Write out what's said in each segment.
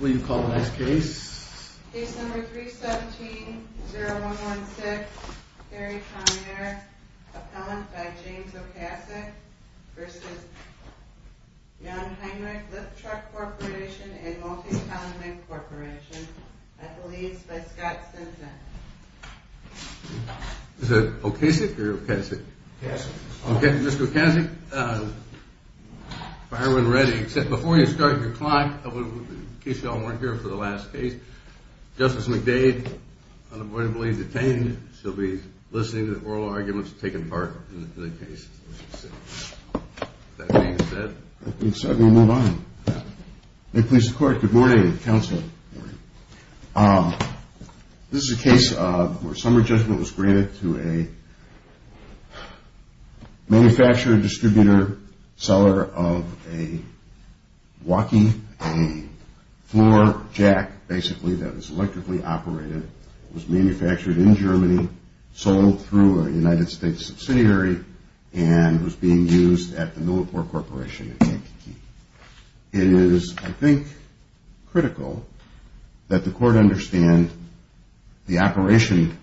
Will you call the next case? Case number 317-0116, Terry Pommier, appellant by James Okasik v. Jungheinrich Lift Truck Corporation & Multiton Mic Corporation, at the leads by Scott Simpson. Is it Okasik or Okasik? Okasik. Okay, Mr. Okasik, fire when ready, except before you start your clock, in case you all weren't here for the last case, Justice McDade, unavoidably detained. She'll be listening to the oral arguments taking part in the case. Is that being said? I think so. I'm going to move on. May it please the court. Good morning, counsel. Good morning. This is a case where summary judgment was granted to a manufacturer, distributor, seller of a walkie, a floor jack, basically, that was electrically operated. It was manufactured in Germany, sold through a United States subsidiary, and was being used at the Millipore Corporation in Kankakee. It is, I think, critical that the court understand the operation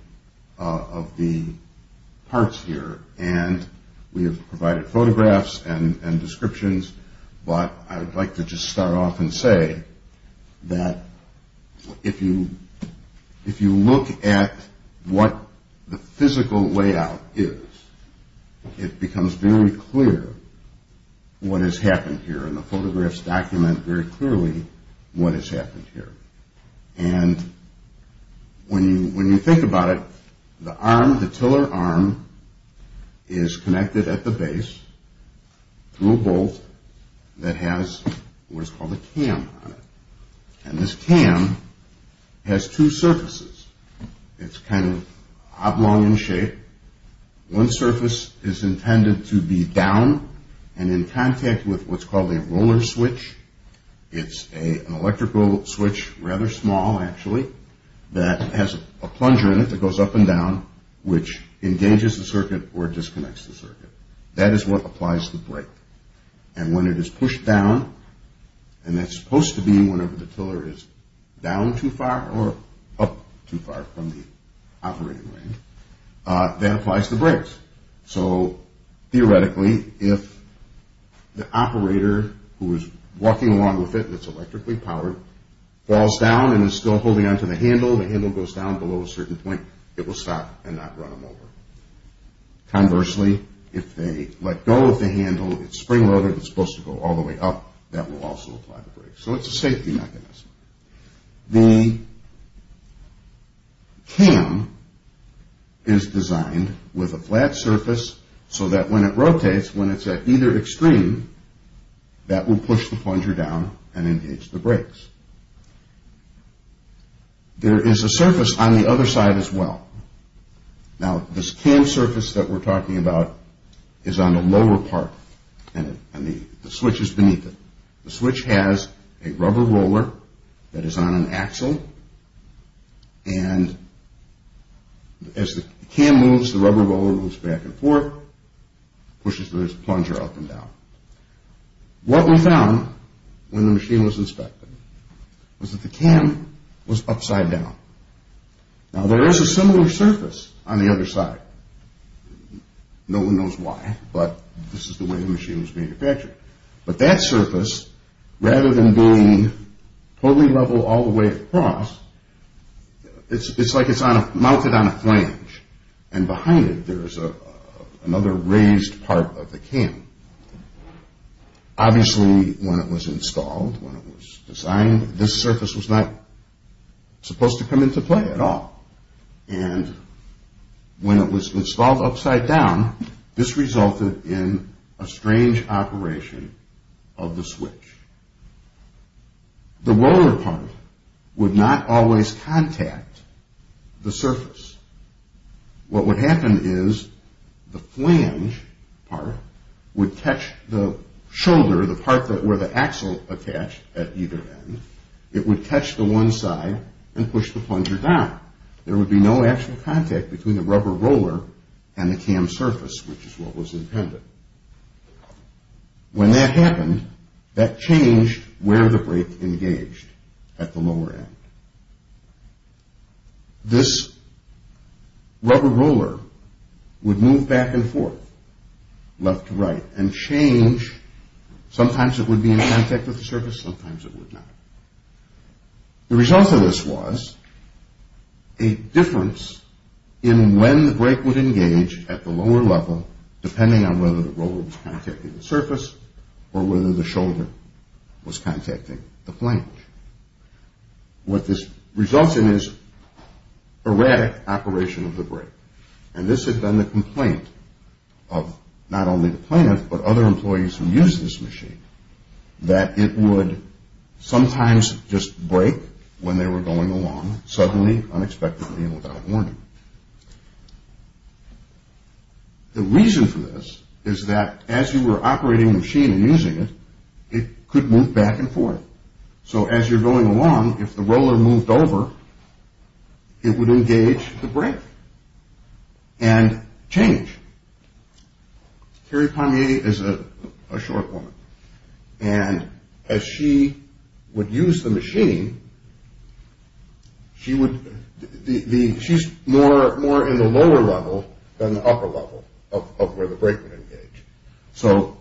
of the parts here, and we have provided photographs and descriptions, but I'd like to just start off and say that if you look at what the physical layout is, it becomes very clear what has happened here, and the photographs document very clearly what has happened here. And when you think about it, the arm, the tiller arm, is connected at the base through a bolt that has what is called a cam on it. And this cam has two surfaces. It's kind of oblong in shape. One surface is intended to be down and in contact with what's called a roller switch. It's an electrical switch, rather small, actually, that has a plunger in it that goes up and down, which engages the circuit or disconnects the circuit. That is what applies to the brake. And when it is pushed down, and it's supposed to be whenever the tiller is down too far or up too far from the operating ring, that applies to brakes. So, theoretically, if the operator who is walking along with it, that's electrically powered, falls down and is still holding on to the handle, the handle goes down below a certain point, it will stop and not run them over. Conversely, if they let go of the handle, it's spring loaded, it's supposed to go all the way up, that will also apply to brakes. So it's a safety mechanism. The cam is designed with a flat surface so that when it rotates, when it's at either extreme, that will push the plunger down and engage the brakes. There is a surface on the other side as well. Now, this cam surface that we're talking about is on the lower part, and the switch is beneath it. The switch has a rubber roller that is on an axle, and as the cam moves, the rubber roller moves back and forth, pushes the plunger up and down. What we found when the machine was inspected was that the cam was upside down. Now, there is a similar surface on the other side. No one knows why, but this is the way the machine was manufactured. But that surface, rather than being totally level all the way across, it's like it's mounted on a flange, and behind it there is another raised part of the cam. Obviously, when it was installed, when it was designed, this surface was not supposed to come into play at all. And when it was installed upside down, this resulted in a strange operation of the switch. The roller part would not always contact the surface. What would happen is the flange part would catch the shoulder, the part where the axle attached at either end, it would catch the one side and push the plunger down. There would be no actual contact between the rubber roller and the cam surface, which is what was intended. When that happened, that changed where the brake engaged, at the lower end. This rubber roller would move back and forth, left to right, and change. Sometimes it would be in contact with the surface, sometimes it would not. The result of this was a difference in when the brake would engage at the lower level, depending on whether the roller was contacting the surface or whether the shoulder was contacting the flange. What this results in is erratic operation of the brake. And this had been the complaint of not only the plaintiff, but other employees who used this machine, that it would sometimes just brake when they were going along, suddenly, unexpectedly, and without warning. The reason for this is that as you were operating the machine and using it, it could move back and forth. So as you're going along, if the roller moved over, it would engage the brake and change. Carrie Pommier is a short woman, and as she would use the machine, she's more in the lower level than the upper level of where the brake would engage. So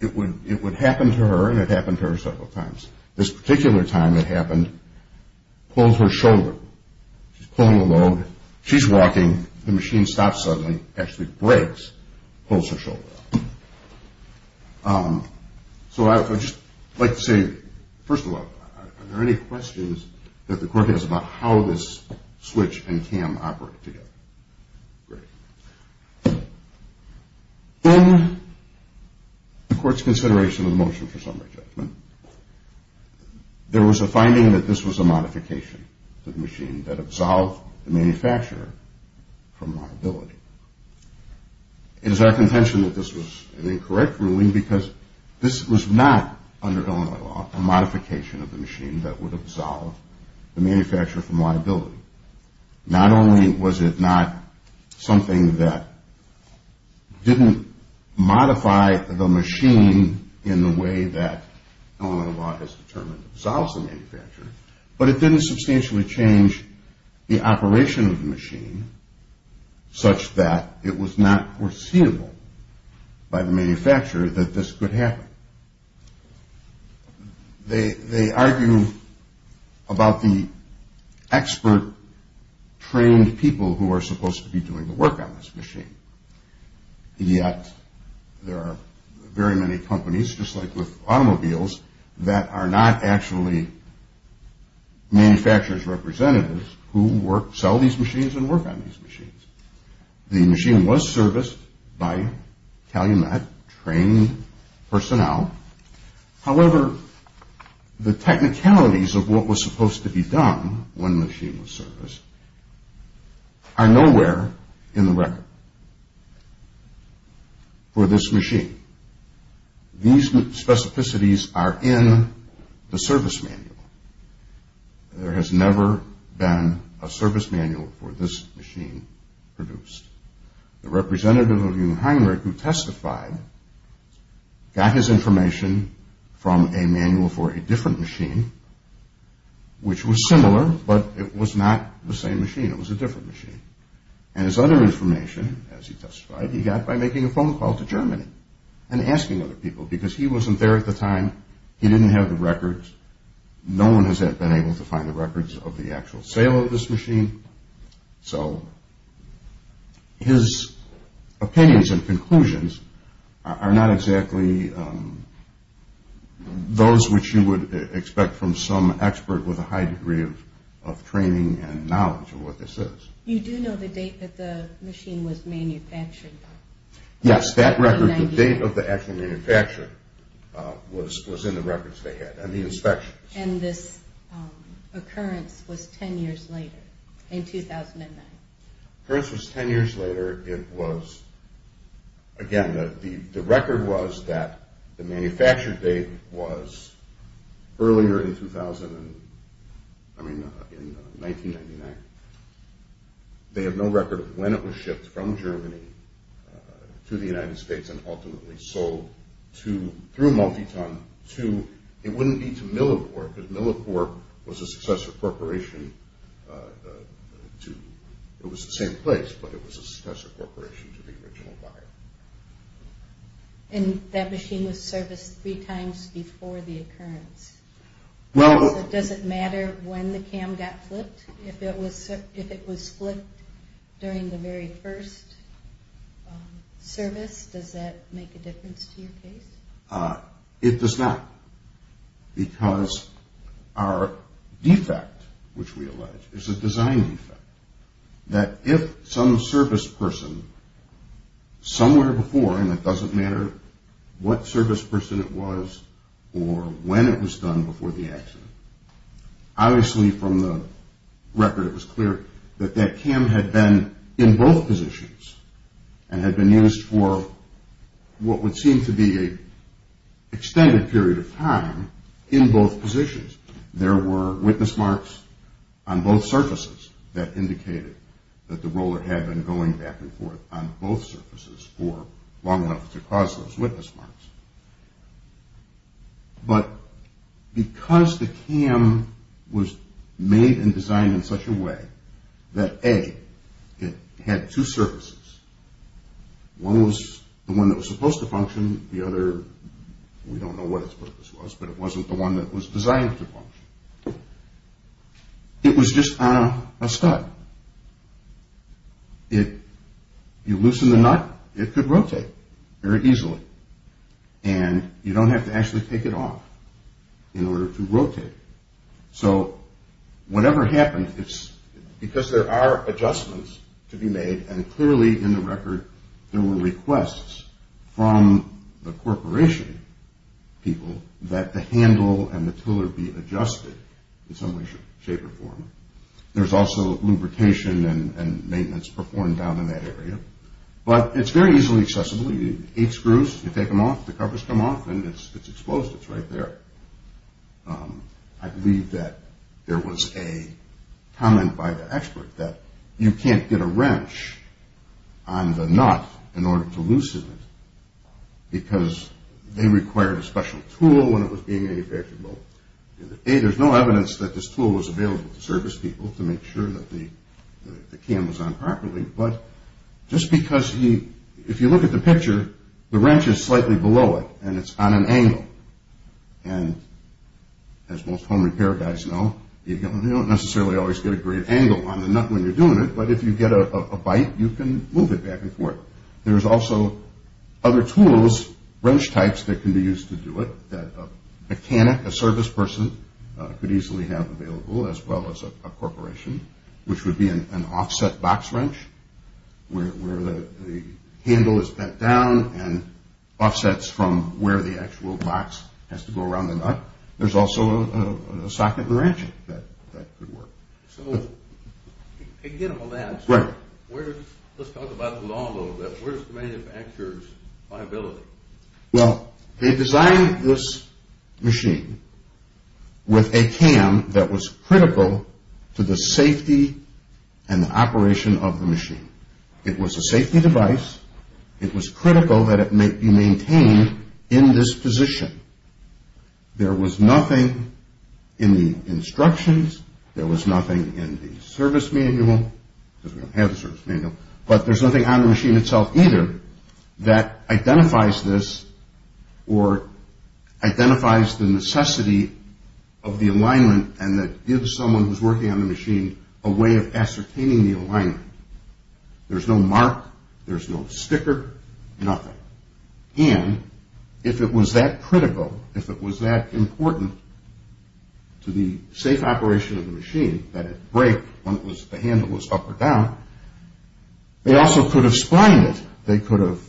it would happen to her, and it happened to her several times. This particular time it happened, pulls her shoulder. She's pulling the load, she's walking, the machine stops suddenly, actually brakes, pulls her shoulder. So I would just like to say, first of all, are there any questions that the court has about how this switch and cam operate together? Great. In the court's consideration of the motion for summary judgment, there was a finding that this was a modification to the machine that absolved the manufacturer from liability. It is our contention that this was an incorrect ruling because this was not, under Illinois law, a modification of the machine that would absolve the manufacturer from liability. Not only was it not something that didn't modify the machine in the way that Illinois law has determined absolves the manufacturer, but it didn't substantially change the operation of the machine such that it was not foreseeable by the manufacturer that this could happen. They argue about the expert trained people who are supposed to be doing the work on this machine. Yet there are very many companies, just like with automobiles, that are not actually manufacturer's representatives who sell these machines and work on these machines. The machine was serviced by Calumet trained personnel. However, the technicalities of what was supposed to be done when the machine was serviced are nowhere in the record for this machine. These specificities are in the service manual. There has never been a service manual for this machine produced. The representative of Jungheinrich, who testified, got his information from a manual for a different machine, which was similar, but it was not the same machine. It was a different machine. And his other information, as he testified, he got by making a phone call to Germany and asking other people because he wasn't there at the time. He didn't have the records. No one has been able to find the records of the actual sale of this machine. So his opinions and conclusions are not exactly those which you would expect from some expert with a high degree of training and knowledge of what this is. You do know the date that the machine was manufactured? Yes, that record, the date of the actual manufacture, was in the records they had and the inspections. And this occurrence was 10 years later, in 2009? The occurrence was 10 years later. It was, again, the record was that the manufacture date was earlier in 2000, I mean in 1999. They have no record of when it was shipped from Germany to the United States and ultimately sold to, through Multiton, to, it wouldn't be to Millicorp, because Millicorp was a successor corporation to, it was the same place, but it was a successor corporation to the original buyer. And that machine was serviced three times before the occurrence? Does it matter when the cam got flipped? If it was flipped during the very first service, does that make a difference to your case? It does not, because our defect, which we allege, is a design defect, that if some service person somewhere before, and it doesn't matter what service person it was or when it was done before the accident, obviously from the record it was clear that that cam had been in both positions and had been used for what would seem to be an extended period of time in both positions. There were witness marks on both surfaces that indicated that the roller had been going back and forth on both surfaces for long enough to cause those witness marks. But because the cam was made and designed in such a way that, A, it had two surfaces, one was the one that was supposed to function, the other, we don't know what its purpose was, but it wasn't the one that was designed to function, it was just on a stud. If you loosen the nut, it could rotate very easily. And you don't have to actually take it off in order to rotate it. So whatever happened, because there are adjustments to be made, and clearly in the record there were requests from the corporation people that the handle and the tiller be adjusted in some way, shape, or form. There's also lubrication and maintenance performed down in that area. But it's very easily accessible. Eight screws, you take them off, the covers come off, and it's exposed. It's right there. I believe that there was a comment by the expert that you can't get a wrench on the nut in order to loosen it because they required a special tool when it was being manufactured. A, there's no evidence that this tool was available to service people to make sure that the cam was on properly, but just because, if you look at the picture, the wrench is slightly below it, and it's on an angle. And as most home repair guys know, you don't necessarily always get a great angle on the nut when you're doing it, but if you get a bite, you can move it back and forth. There's also other tools, wrench types, that can be used to do it, that a mechanic, a service person, could easily have available, as well as a corporation, which would be an offset box wrench where the handle is bent down and offsets from where the actual box has to go around the nut. There's also a socket and ratchet that could work. So, to get on that, let's talk about the law a little bit. Where's the manufacturer's liability? Well, they designed this machine with a cam that was critical to the safety and the operation of the machine. It was a safety device. It was critical that it be maintained in this position. There was nothing in the instructions, there was nothing in the service manual, because we don't have the service manual, but there's nothing on the machine itself either that identifies this or identifies the necessity of the alignment and that gives someone who's working on the machine a way of ascertaining the alignment. There's no mark, there's no sticker, nothing. And, if it was that critical, if it was that important to the safe operation of the machine, that it break when the handle was up or down, they also could have splined it, they could have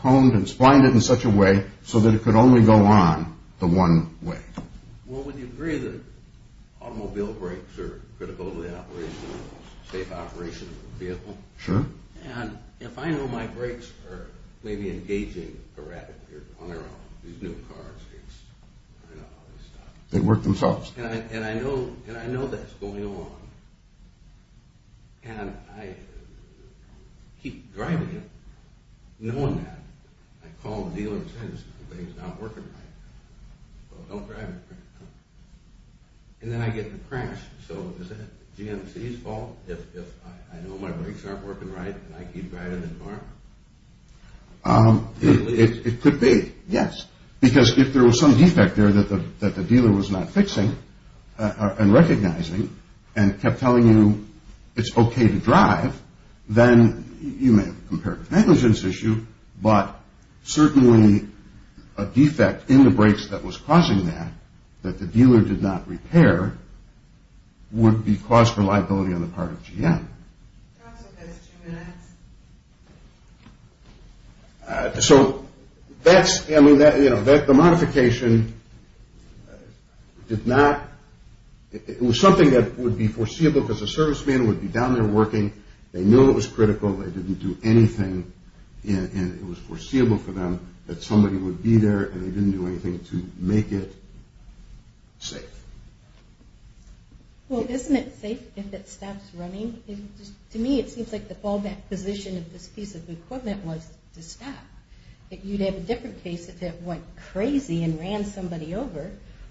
combed and splined it in such a way so that it could only go on the one way. Well, would you agree that automobile brakes are critical to the operation, safe operation of the vehicle? Sure. And, if I know my brakes are maybe engaging a rat on their own, these new cars, it's... They work themselves. And, I know that's going on. And, I keep driving it knowing that. I call the dealer and say, this thing's not working right. Well, don't drive it. And, then I get in a crash. So, is that GMC's fault if I know my brakes aren't working right and I keep driving the car? It could be, yes. Because, if there was some defect there that the dealer was not fixing and recognizing and kept telling you it's okay to drive, then you may have a comparative negligence issue, but certainly a defect in the brakes that was causing that, that the dealer did not repair, would be cause for liability on the part of GM. Counsel, just two minutes. So, that's... I mean, the modification did not... It was something that would be foreseeable because the serviceman would be down there working. They knew it was critical. They didn't do anything. And, it was foreseeable for them that somebody would be there and they didn't do anything to make it safe. Well, isn't it safe if it stops running? To me, it seems like the fallback position of this piece of equipment was to stop. You'd have a different case if it went crazy and ran somebody over.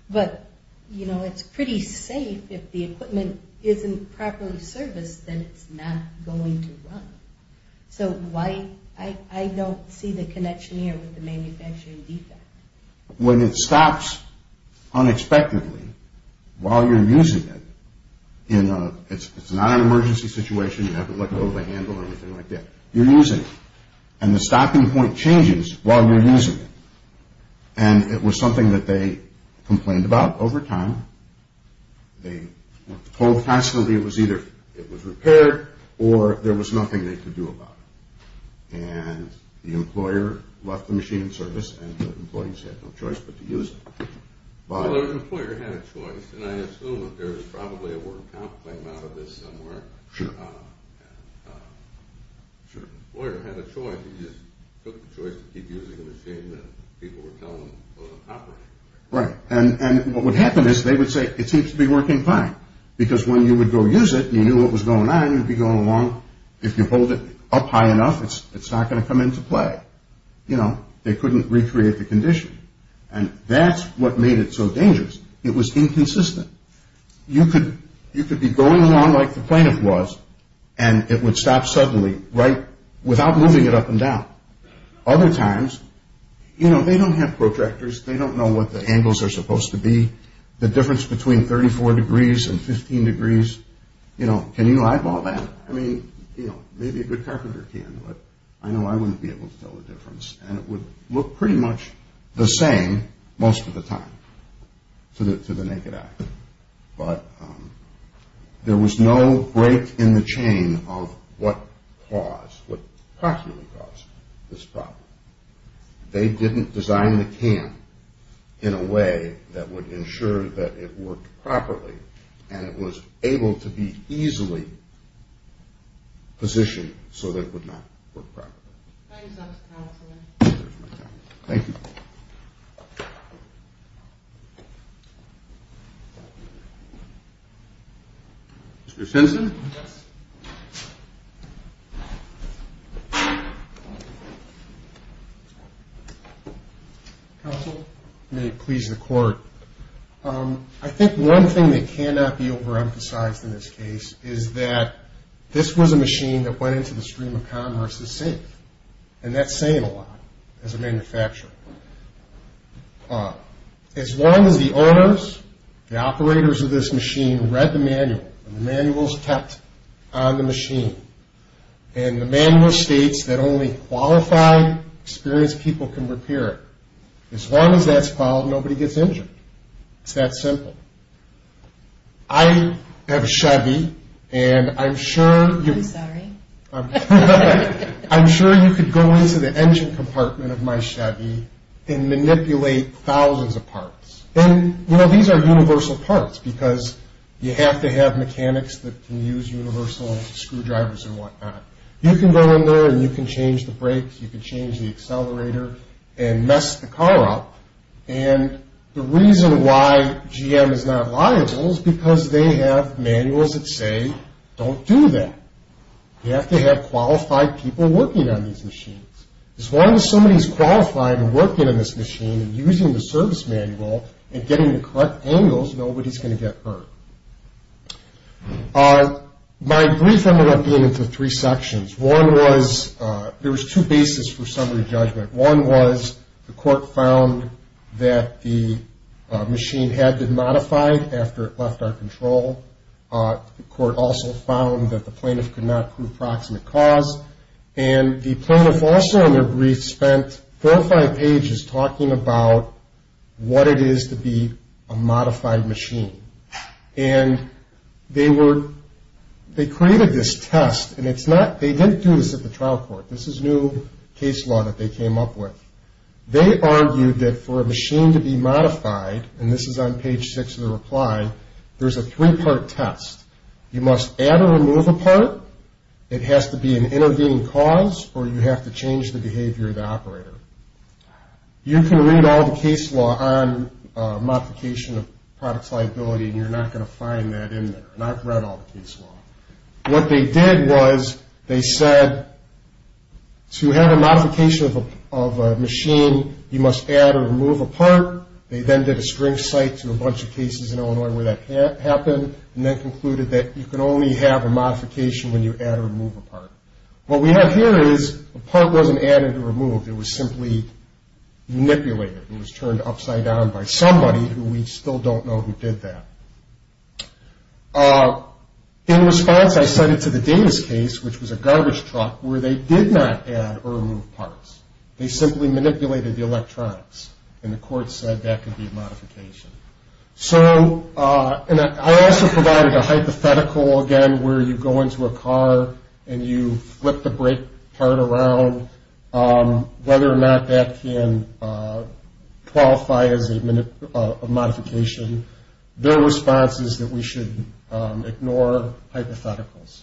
But, you know, it's pretty safe. If the equipment isn't properly serviced, then it's not going to run. So, I don't see the connection here with the manufacturing defect. When it stops unexpectedly while you're using it in a... It's not an emergency situation. You haven't let go of the handle or anything like that. You're using it. And, the stopping point changes while you're using it. And, it was something that they complained about over time. They were told constantly it was either it was repaired or there was nothing they could do about it. And, the employer left the machine in service and the employees had no choice but to use it. Well, the employer had a choice. And, I assume there was probably a word of complaint out of this somewhere. Sure. The employer had a choice. He just took the choice to keep using the machine that people were telling him wasn't operating. Right. And, what would happen is they would say, it seems to be working fine. Because, when you would go use it and you knew what was going on, if you hold it up high enough, it's not going to come into play. You know, they couldn't recreate the condition. And, that's what made it so dangerous. It was inconsistent. You could be going along like the plaintiff was and it would stop suddenly without moving it up and down. Other times, you know, they don't have protractors. They don't know what the angles are supposed to be. The difference between 34 degrees and 15 degrees. You know, can you eyeball that? I mean, you know, maybe a good carpenter can. But, I know I wouldn't be able to tell the difference. And, it would look pretty much the same most of the time to the naked eye. But, there was no break in the chain of what caused, what practically caused this problem. They didn't design the can in a way that would ensure that it worked properly and it was able to be easily positioned so that it would not work properly. Thanks, Counselor. Thank you. Mr. Sensen? Counsel, may it please the Court. I think one thing that cannot be overemphasized in this case is that this was a machine that went into the stream of commerce as safe. And, that's saying a lot as a manufacturer. As long as the owners, the operators of this machine read the manual, and the manual is kept on the machine, and the manual states that only qualified, experienced people can repair it, as long as that's followed, nobody gets injured. It's that simple. I have a Chevy, and I'm sure you... I'm sorry. I'm sure you could go into the engine compartment of my Chevy and manipulate thousands of parts. And, you know, these are universal parts because you have to have mechanics that can use universal screwdrivers and whatnot. and mess the car up. And, the reason why GM is not liable is because they have manuals that say, don't do that. You have to have qualified people working on these machines. As long as somebody's qualified and working on this machine and using the service manual and getting the correct angles, nobody's going to get hurt. My brief ended up being into three sections. One was, there was two bases for summary judgment. One was, the court found that the machine had been modified after it left our control. The court also found that the plaintiff could not prove proximate cause. And the plaintiff also, in their brief, spent four or five pages talking about what it is to be a modified machine. And they were... They created this test, and it's not... They didn't do this at the trial court. This is new case law that they came up with. They argued that for a machine to be modified, and this is on page six of the reply, there's a three-part test. You must add or remove a part, it has to be an intervening cause, or you have to change the behavior of the operator. You can read all the case law on modification of products liability, and you're not going to find that in there. And I've read all the case law. What they did was, they said, to have a modification of a machine, you must add or remove a part. They then did a string cite to a bunch of cases in Illinois where that happened, and then concluded that you can only have a modification when you add or remove a part. What we have here is, the part wasn't added or removed. It was simply manipulated. It was turned upside down by somebody who we still don't know who did that. In response, I sent it to the Davis case, which was a garbage truck, where they did not add or remove parts. They simply manipulated the electronics, and the court said that could be a modification. So, and I also provided a hypothetical, again, where you go into a car and you flip the brake part around, whether or not that can qualify as a modification. Their response is that we should ignore hypotheticals.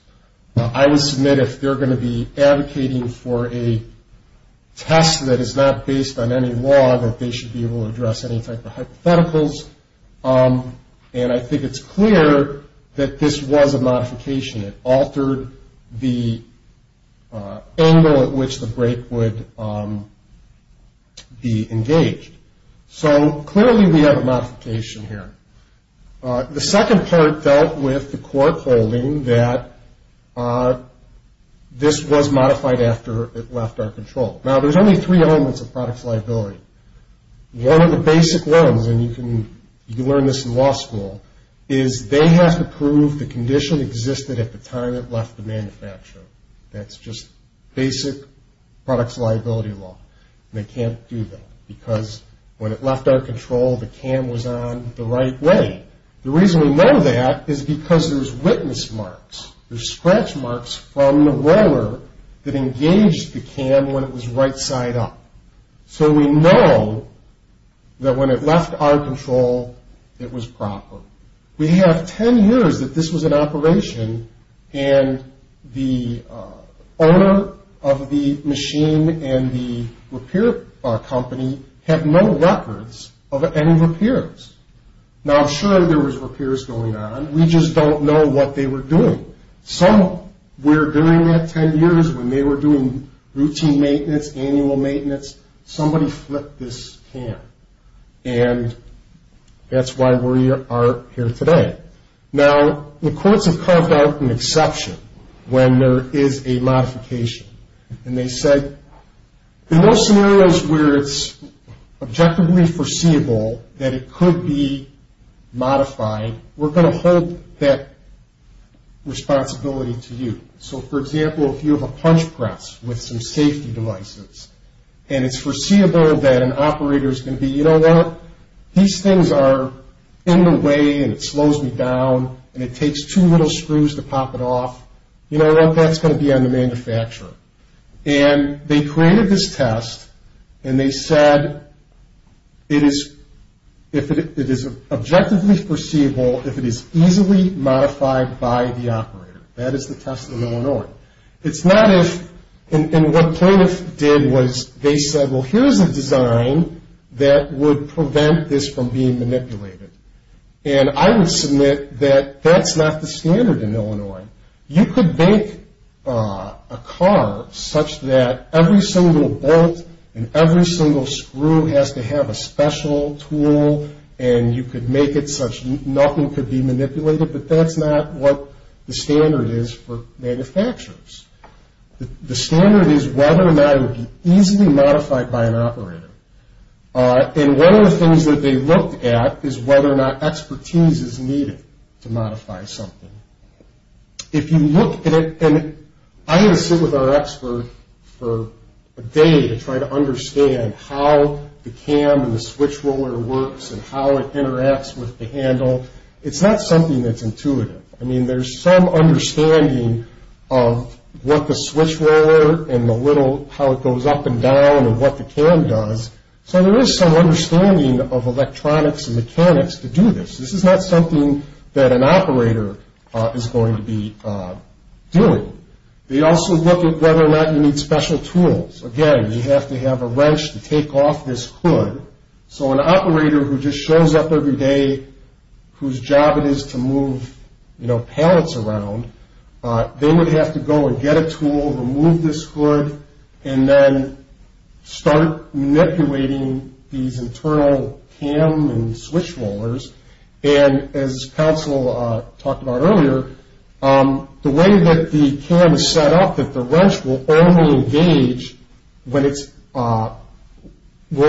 I would submit, if they're going to be advocating for a test that is not based on any law, that they should be able to address any type of hypotheticals. And I think it's clear that this was a modification. It altered the angle at which the brake would be engaged. So, clearly we have a modification here. The second part dealt with the court holding that this was modified after it left our control. Now, there's only three elements of products liability. One of the basic ones, and you can learn this in law school, is they have to prove the condition existed at the time it left the manufacturer. That's just basic products liability law. They can't do that because when it left our control, the cam was on the right way. The reason we know that is because there's witness marks. There's scratch marks from the roller that engaged the cam when it was right side up. So, we know that when it left our control, it was proper. And the owner of the machine and the repair company have no records of any repairs. Now, sure, there was repairs going on. We just don't know what they were doing. Some were doing that 10 years when they were doing routine maintenance, annual maintenance. Somebody flipped this cam. And that's why we are here today. Now, the courts have carved out an exception when there is a modification. And they said, in those scenarios where it's objectively foreseeable that it could be modified, we're going to hold that responsibility to you. So, for example, if you have a punch press with some safety devices, and it's foreseeable that an operator is going to be, you know what, these things are in the way, and it slows me down, and it takes two little screws to pop it off, you know what, that's going to be on the manufacturer. And they created this test, and they said it is objectively foreseeable if it is easily modified by the operator. That is the test in Illinois. It's not if, and what plaintiffs did was they said, well, here's a design that would prevent this from being manipulated. And I would submit that that's not the standard in Illinois. You could make a car such that every single bolt and every single screw has to have a special tool, and you could make it such nothing could be manipulated, but that's not what the standard is for manufacturers. The standard is whether or not it would be easily modified by an operator. And one of the things that they looked at is whether or not expertise is needed to modify something. If you look at it, and I had to sit with our expert for a day to try to understand how the cam and the switch roller works and how it interacts with the handle, it's not something that's intuitive. I mean, there's some understanding of what the switch roller and the little, how it goes up and down and what the cam does. So there is some understanding of electronics and mechanics to do this. This is not something that an operator is going to be doing. They also look at whether or not you need special tools. Again, you have to have a wrench to take off this hood. So an operator who just shows up every day whose job it is to move, you know, pallets around, they would have to go and get a tool, remove this hood, and then start manipulating these internal cam and switch rollers. And as Council talked about earlier, the way that the cam is set up, that the wrench will only engage when it's, will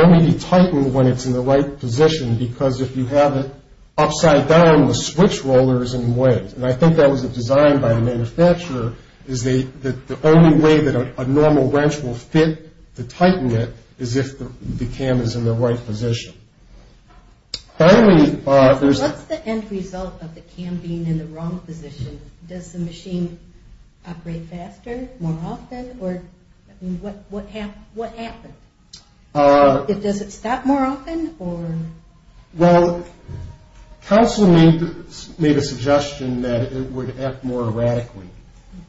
only be tightened when it's in the right position, because if you have it upside down, the switch roller is in the way. And I think that was a design by a manufacturer is that the only way that a normal wrench will fit to tighten it is if the cam is in the right position. Finally, there's... What's the end result of the cam being in the wrong position? Does the machine operate faster, more often, or, I mean, what happened? Does it stop more often, or... Well, Council made a suggestion that it would act more erratically.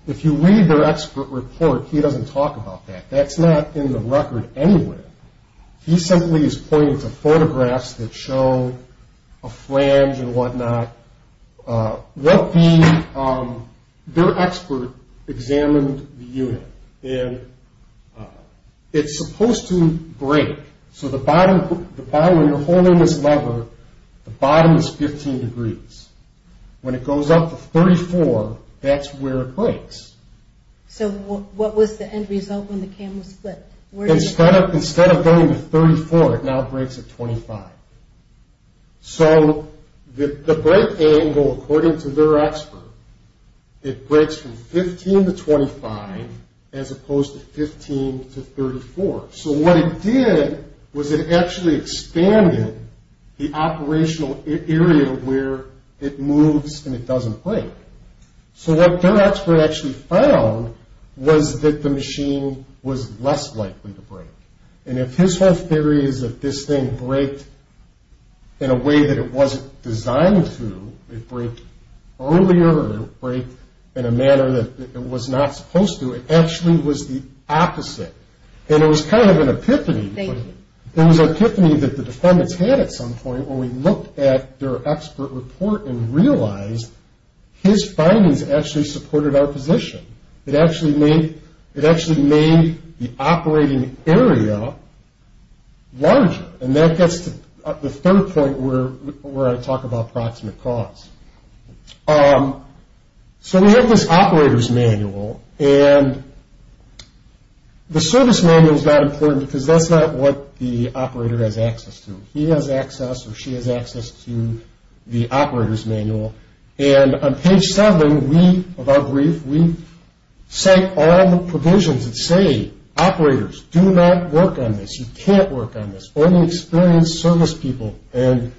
If you read their expert report, he doesn't talk about that. That's not in the record anywhere. He simply is pointing to photographs that show a flange and whatnot. What the... Their expert examined the unit, and it's supposed to break. So the bottom, when you're holding this lever, the bottom is 15 degrees. When it goes up to 34, that's where it breaks. So what was the end result when the cam was split? Instead of going to 34, it now breaks at 25. So the break angle, according to their expert, it breaks from 15 to 25 as opposed to 15 to 34. So what it did was it actually expanded the operational area where it moves and it doesn't break. So what their expert actually found was that the machine was less likely to break. And if his whole theory is that this thing breaked in a way that it wasn't designed to, it'd break earlier or it'd break in a manner that it was not supposed to, it actually was the opposite. And it was kind of an epiphany. It was an epiphany that the defendants had at some point when we looked at their expert report and realized his findings actually supported our position. It actually made the operating area larger, and that gets to the third point where I talk about proximate cause. So we have this operator's manual, and the service manual is not important because that's not what the operator has access to. He has access or she has access to the operator's manual. And on page 7 of our brief, we cite all the provisions that say, operators, do not work on this, you can't work on this, only experienced service people. And,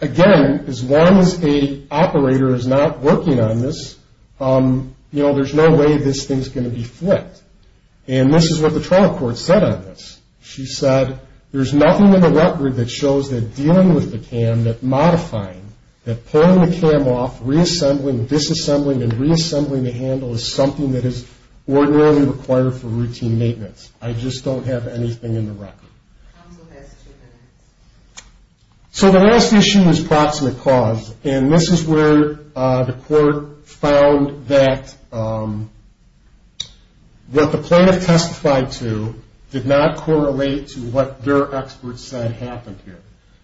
again, as long as the operator is not working on this, you know, there's no way this thing's going to be flipped. And this is what the trial court said on this. She said, there's nothing in the record that shows that dealing with the cam, that modifying, that pulling the cam off, reassembling, disassembling, and reassembling the handle is something that is ordinarily required for routine maintenance. I just don't have anything in the record. So the last issue is proximate cause, and this is where the court found that what the plaintiff testified to did not correlate to what their expert said happened here.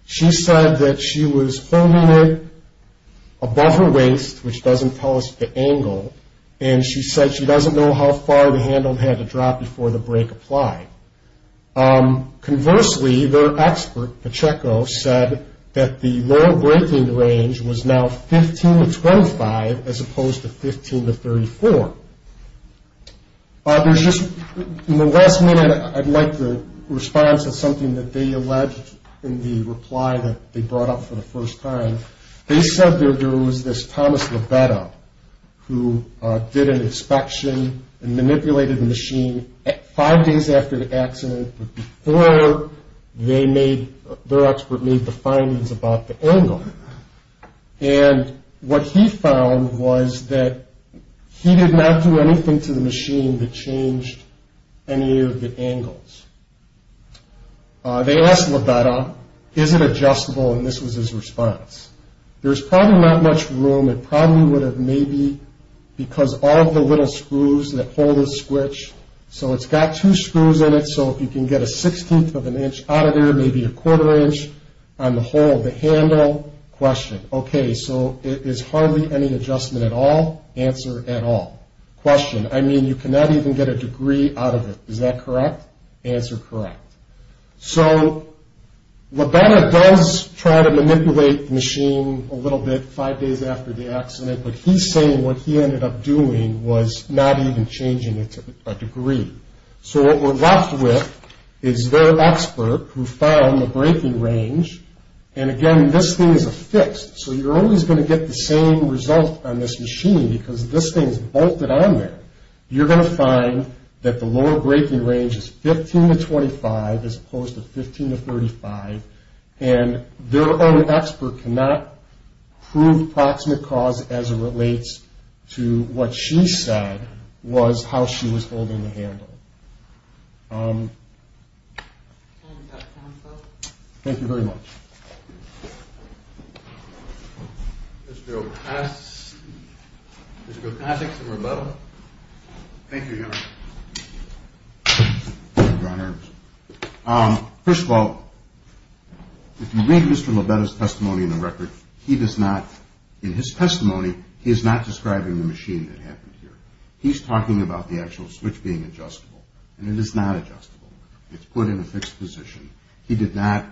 She said that she was holding it above her waist, which doesn't tell us the angle, and she said she doesn't know how far the handle had to drop before the brake applied. Conversely, their expert, Pacheco, said that the lower braking range was now 15 to 25 as opposed to 15 to 34. There's just, in the last minute, I'd like the response to something that they alleged in the reply that they brought up for the first time. They said there was this Thomas Libeto who did an inspection and manipulated the machine five days after the accident before their expert made the findings about the angle. And what he found was that he did not do anything to the machine that changed any of the angles. They asked Libeto, is it adjustable, and this was his response. There's probably not much room. It probably would have maybe, because all of the little screws that hold the switch, so it's got two screws in it, so if you can get a sixteenth of an inch out of there, maybe a quarter inch on the whole of the handle. Question, okay, so it is hardly any adjustment at all. Answer, at all. Question, I mean, you cannot even get a degree out of it. Is that correct? Answer, correct. So Libeto does try to manipulate the machine a little bit five days after the accident, but he's saying what he ended up doing was not even changing it to a degree. So what we're left with is their expert who found the braking range, and again, this thing is affixed, so you're always going to get the same result on this machine because this thing is bolted on there. You're going to find that the lower braking range is 15 to 25 as opposed to 15 to 35, and their own expert cannot prove proximate cause as it relates to what she said was how she was holding the handle. Thank you very much. Mr. Ocasio. Mr. Ocasio, can I take some rebuttal? Thank you, John. First of all, if you read Mr. Libeto's testimony in the record, he does not, in his testimony, he is not describing the machine that happened here. He's talking about the actual switch being adjustable, and it is not adjustable. It's put in a fixed position. He did not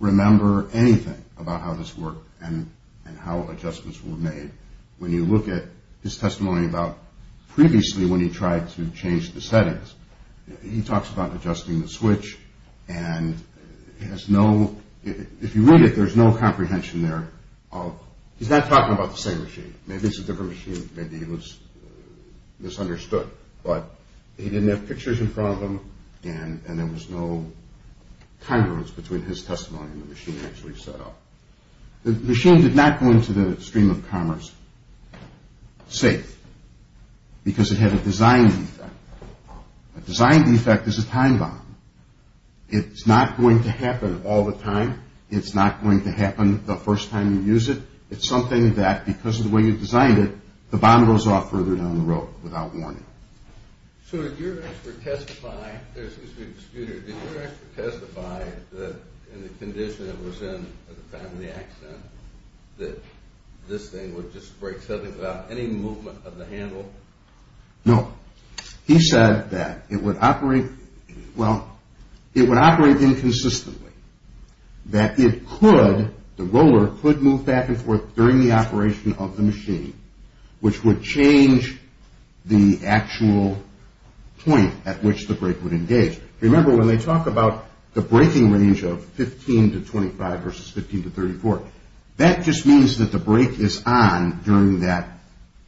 remember anything about how this worked and how adjustments were made. When you look at his testimony about previously when he tried to change the settings, he talks about adjusting the switch, and if you read it, there's no comprehension there. He's not talking about the same machine. Maybe it's a different machine. Maybe he was misunderstood, but he didn't have pictures in front of him, and there was no congruence between his testimony and the machine actually set up. The machine did not go into the stream of commerce safe because it had a design defect. A design defect is a time bomb. It's not going to happen all the time. It's not going to happen the first time you use it. It's something that, because of the way you designed it, the bomb goes off further down the road without warning. So did your expert testify that in the condition it was in at the time of the accident that this thing would just break suddenly without any movement of the handle? No. He said that it would operate, well, it would operate inconsistently, that it could, the roller could move back and forth during the operation of the machine, which would change the actual point at which the brake would engage. Remember, when they talk about the braking range of 15 to 25 versus 15 to 34, that just means that the brake is on during that,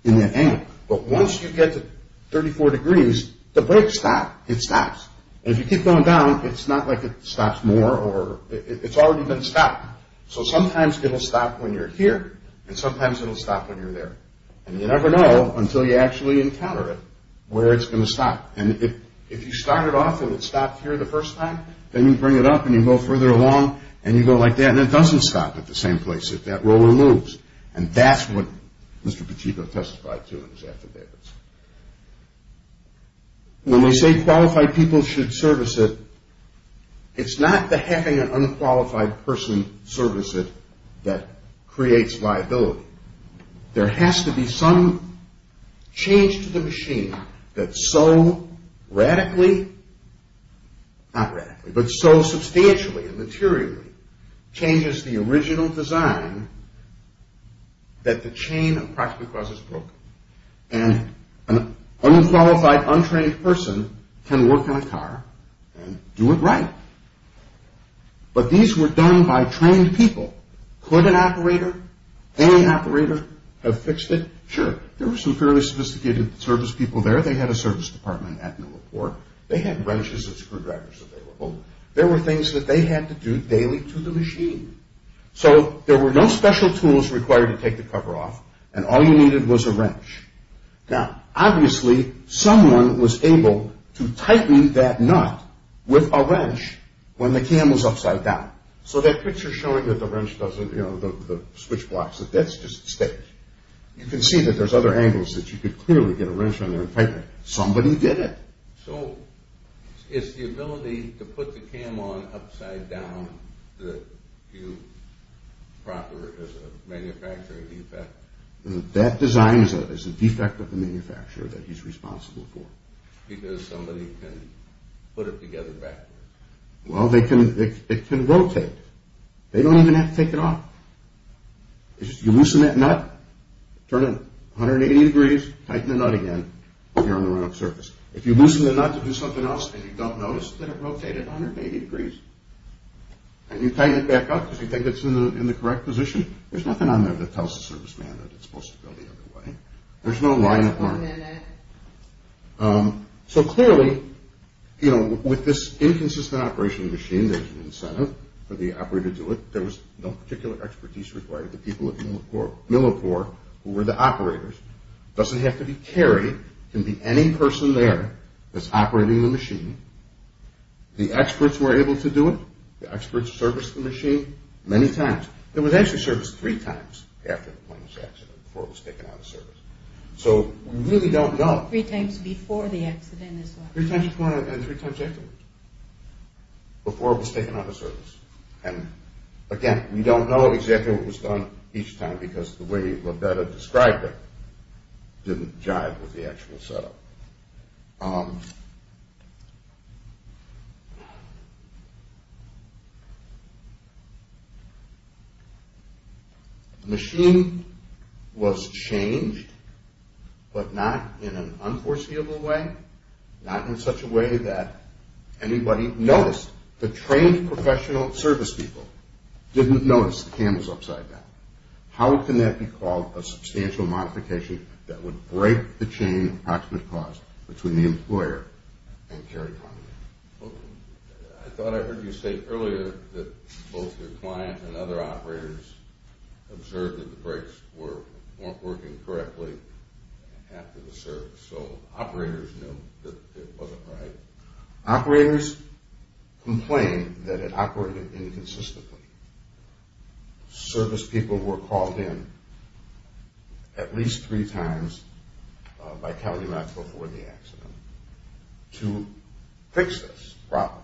in that angle. But once you get to 34 degrees, the brake stops. It stops. And if you keep going down, it's not like it stops more or, it's already been stopped. So sometimes it'll stop when you're here and sometimes it'll stop when you're there. And you never know until you actually encounter it where it's going to stop. And if you start it off and it stops here the first time, then you bring it up and you go further along and you go like that and it doesn't stop at the same place if that roller moves. And that's what Mr. Pacheco testified to in his affidavits. When they say qualified people should service it, it's not that having an unqualified person service it that creates liability. There has to be some change to the machine that so radically, not radically, but so substantially and materially changes the original design that the chain of proximate cause is broken. And an unqualified, untrained person can work on a car and do it right. But these were done by trained people. Could an operator, any operator, have fixed it? Sure. There were some fairly sophisticated service people there. They had a service department at Newport. They had wrenches and screwdrivers available. There were things that they had to do daily to the machine. So there were no special tools required to take the cover off and all you needed was a wrench. Now, obviously, someone was able to tighten that nut with a wrench when the cam was upside down. So that picture showing that the wrench doesn't, you know, the switch blocks, that's just staged. You can see that there's other angles that you could clearly get a wrench on there and tighten it. Somebody did it. So it's the ability to put the cam on upside down that you proper as a manufacturing defect? That design is a defect of the manufacturer that he's responsible for. Because somebody can put it together backwards? Well, it can rotate. They don't even have to take it off. You loosen that nut, turn it 180 degrees, tighten the nut again, and you're on the run-up surface. If you loosen the nut to do something else and you don't notice that it rotated 180 degrees and you tighten it back up because you think it's in the correct position, there's nothing on there that tells the serviceman that it's supposed to go the other way. There's no line of warning. So clearly, you know, with this inconsistent operation of the machine, there's an incentive for the operator to do it. There was no particular expertise required. The people at Millicore who were the operators. It doesn't have to be Carrie. It can be any person there that's operating the machine. The experts were able to do it. The experts serviced the machine many times. It was actually serviced three times after the Pointless accident, before it was taken out of service. So we really don't know. Three times before the accident as well? Three times before and three times afterwards. Before it was taken out of service. Again, we don't know exactly what was done each time because the way Labetta described it didn't jive with the actual setup. The machine was changed, but not in an unforeseeable way. Not in such a way that anybody noticed. The trained professional service people didn't notice the candles upside down. How can that be called a substantial modification that would break the chain of approximate cost between the employer and Carrie Connolly? I thought I heard you say earlier that both your client and other operators observed that the brakes weren't working correctly after the service. So operators knew that it wasn't right. Operators complained that it operated inconsistently. Service people were called in at least three times by Calumet before the accident to fix this problem.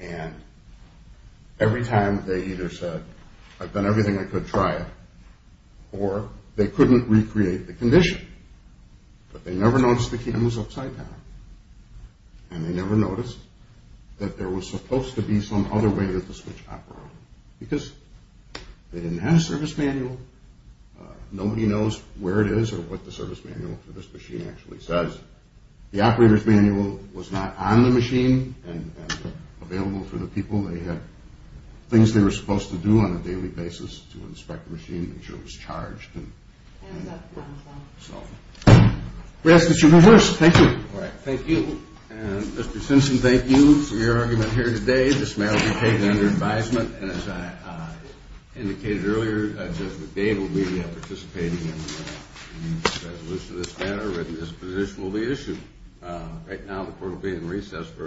And every time they either said, I've done everything I could to try it, or they couldn't recreate the condition. But they never noticed the candles upside down. And they never noticed that there was supposed to be some other way to switch operators because they didn't have a service manual. Nobody knows where it is or what the service manual for this machine actually says. The operator's manual was not on the machine and available for the people. They had things they were supposed to do on a daily basis to inspect the machine, make sure it was charged. We ask that you rehearse. Thank you. All right. Thank you. And Mr. Simpson, thank you for your argument here today. This may all be taken under advisement. And as I indicated earlier, Judge McDade will be participating in the resolution of this matter. A written disposition will be issued. Right now the court will be in recess for a few minutes.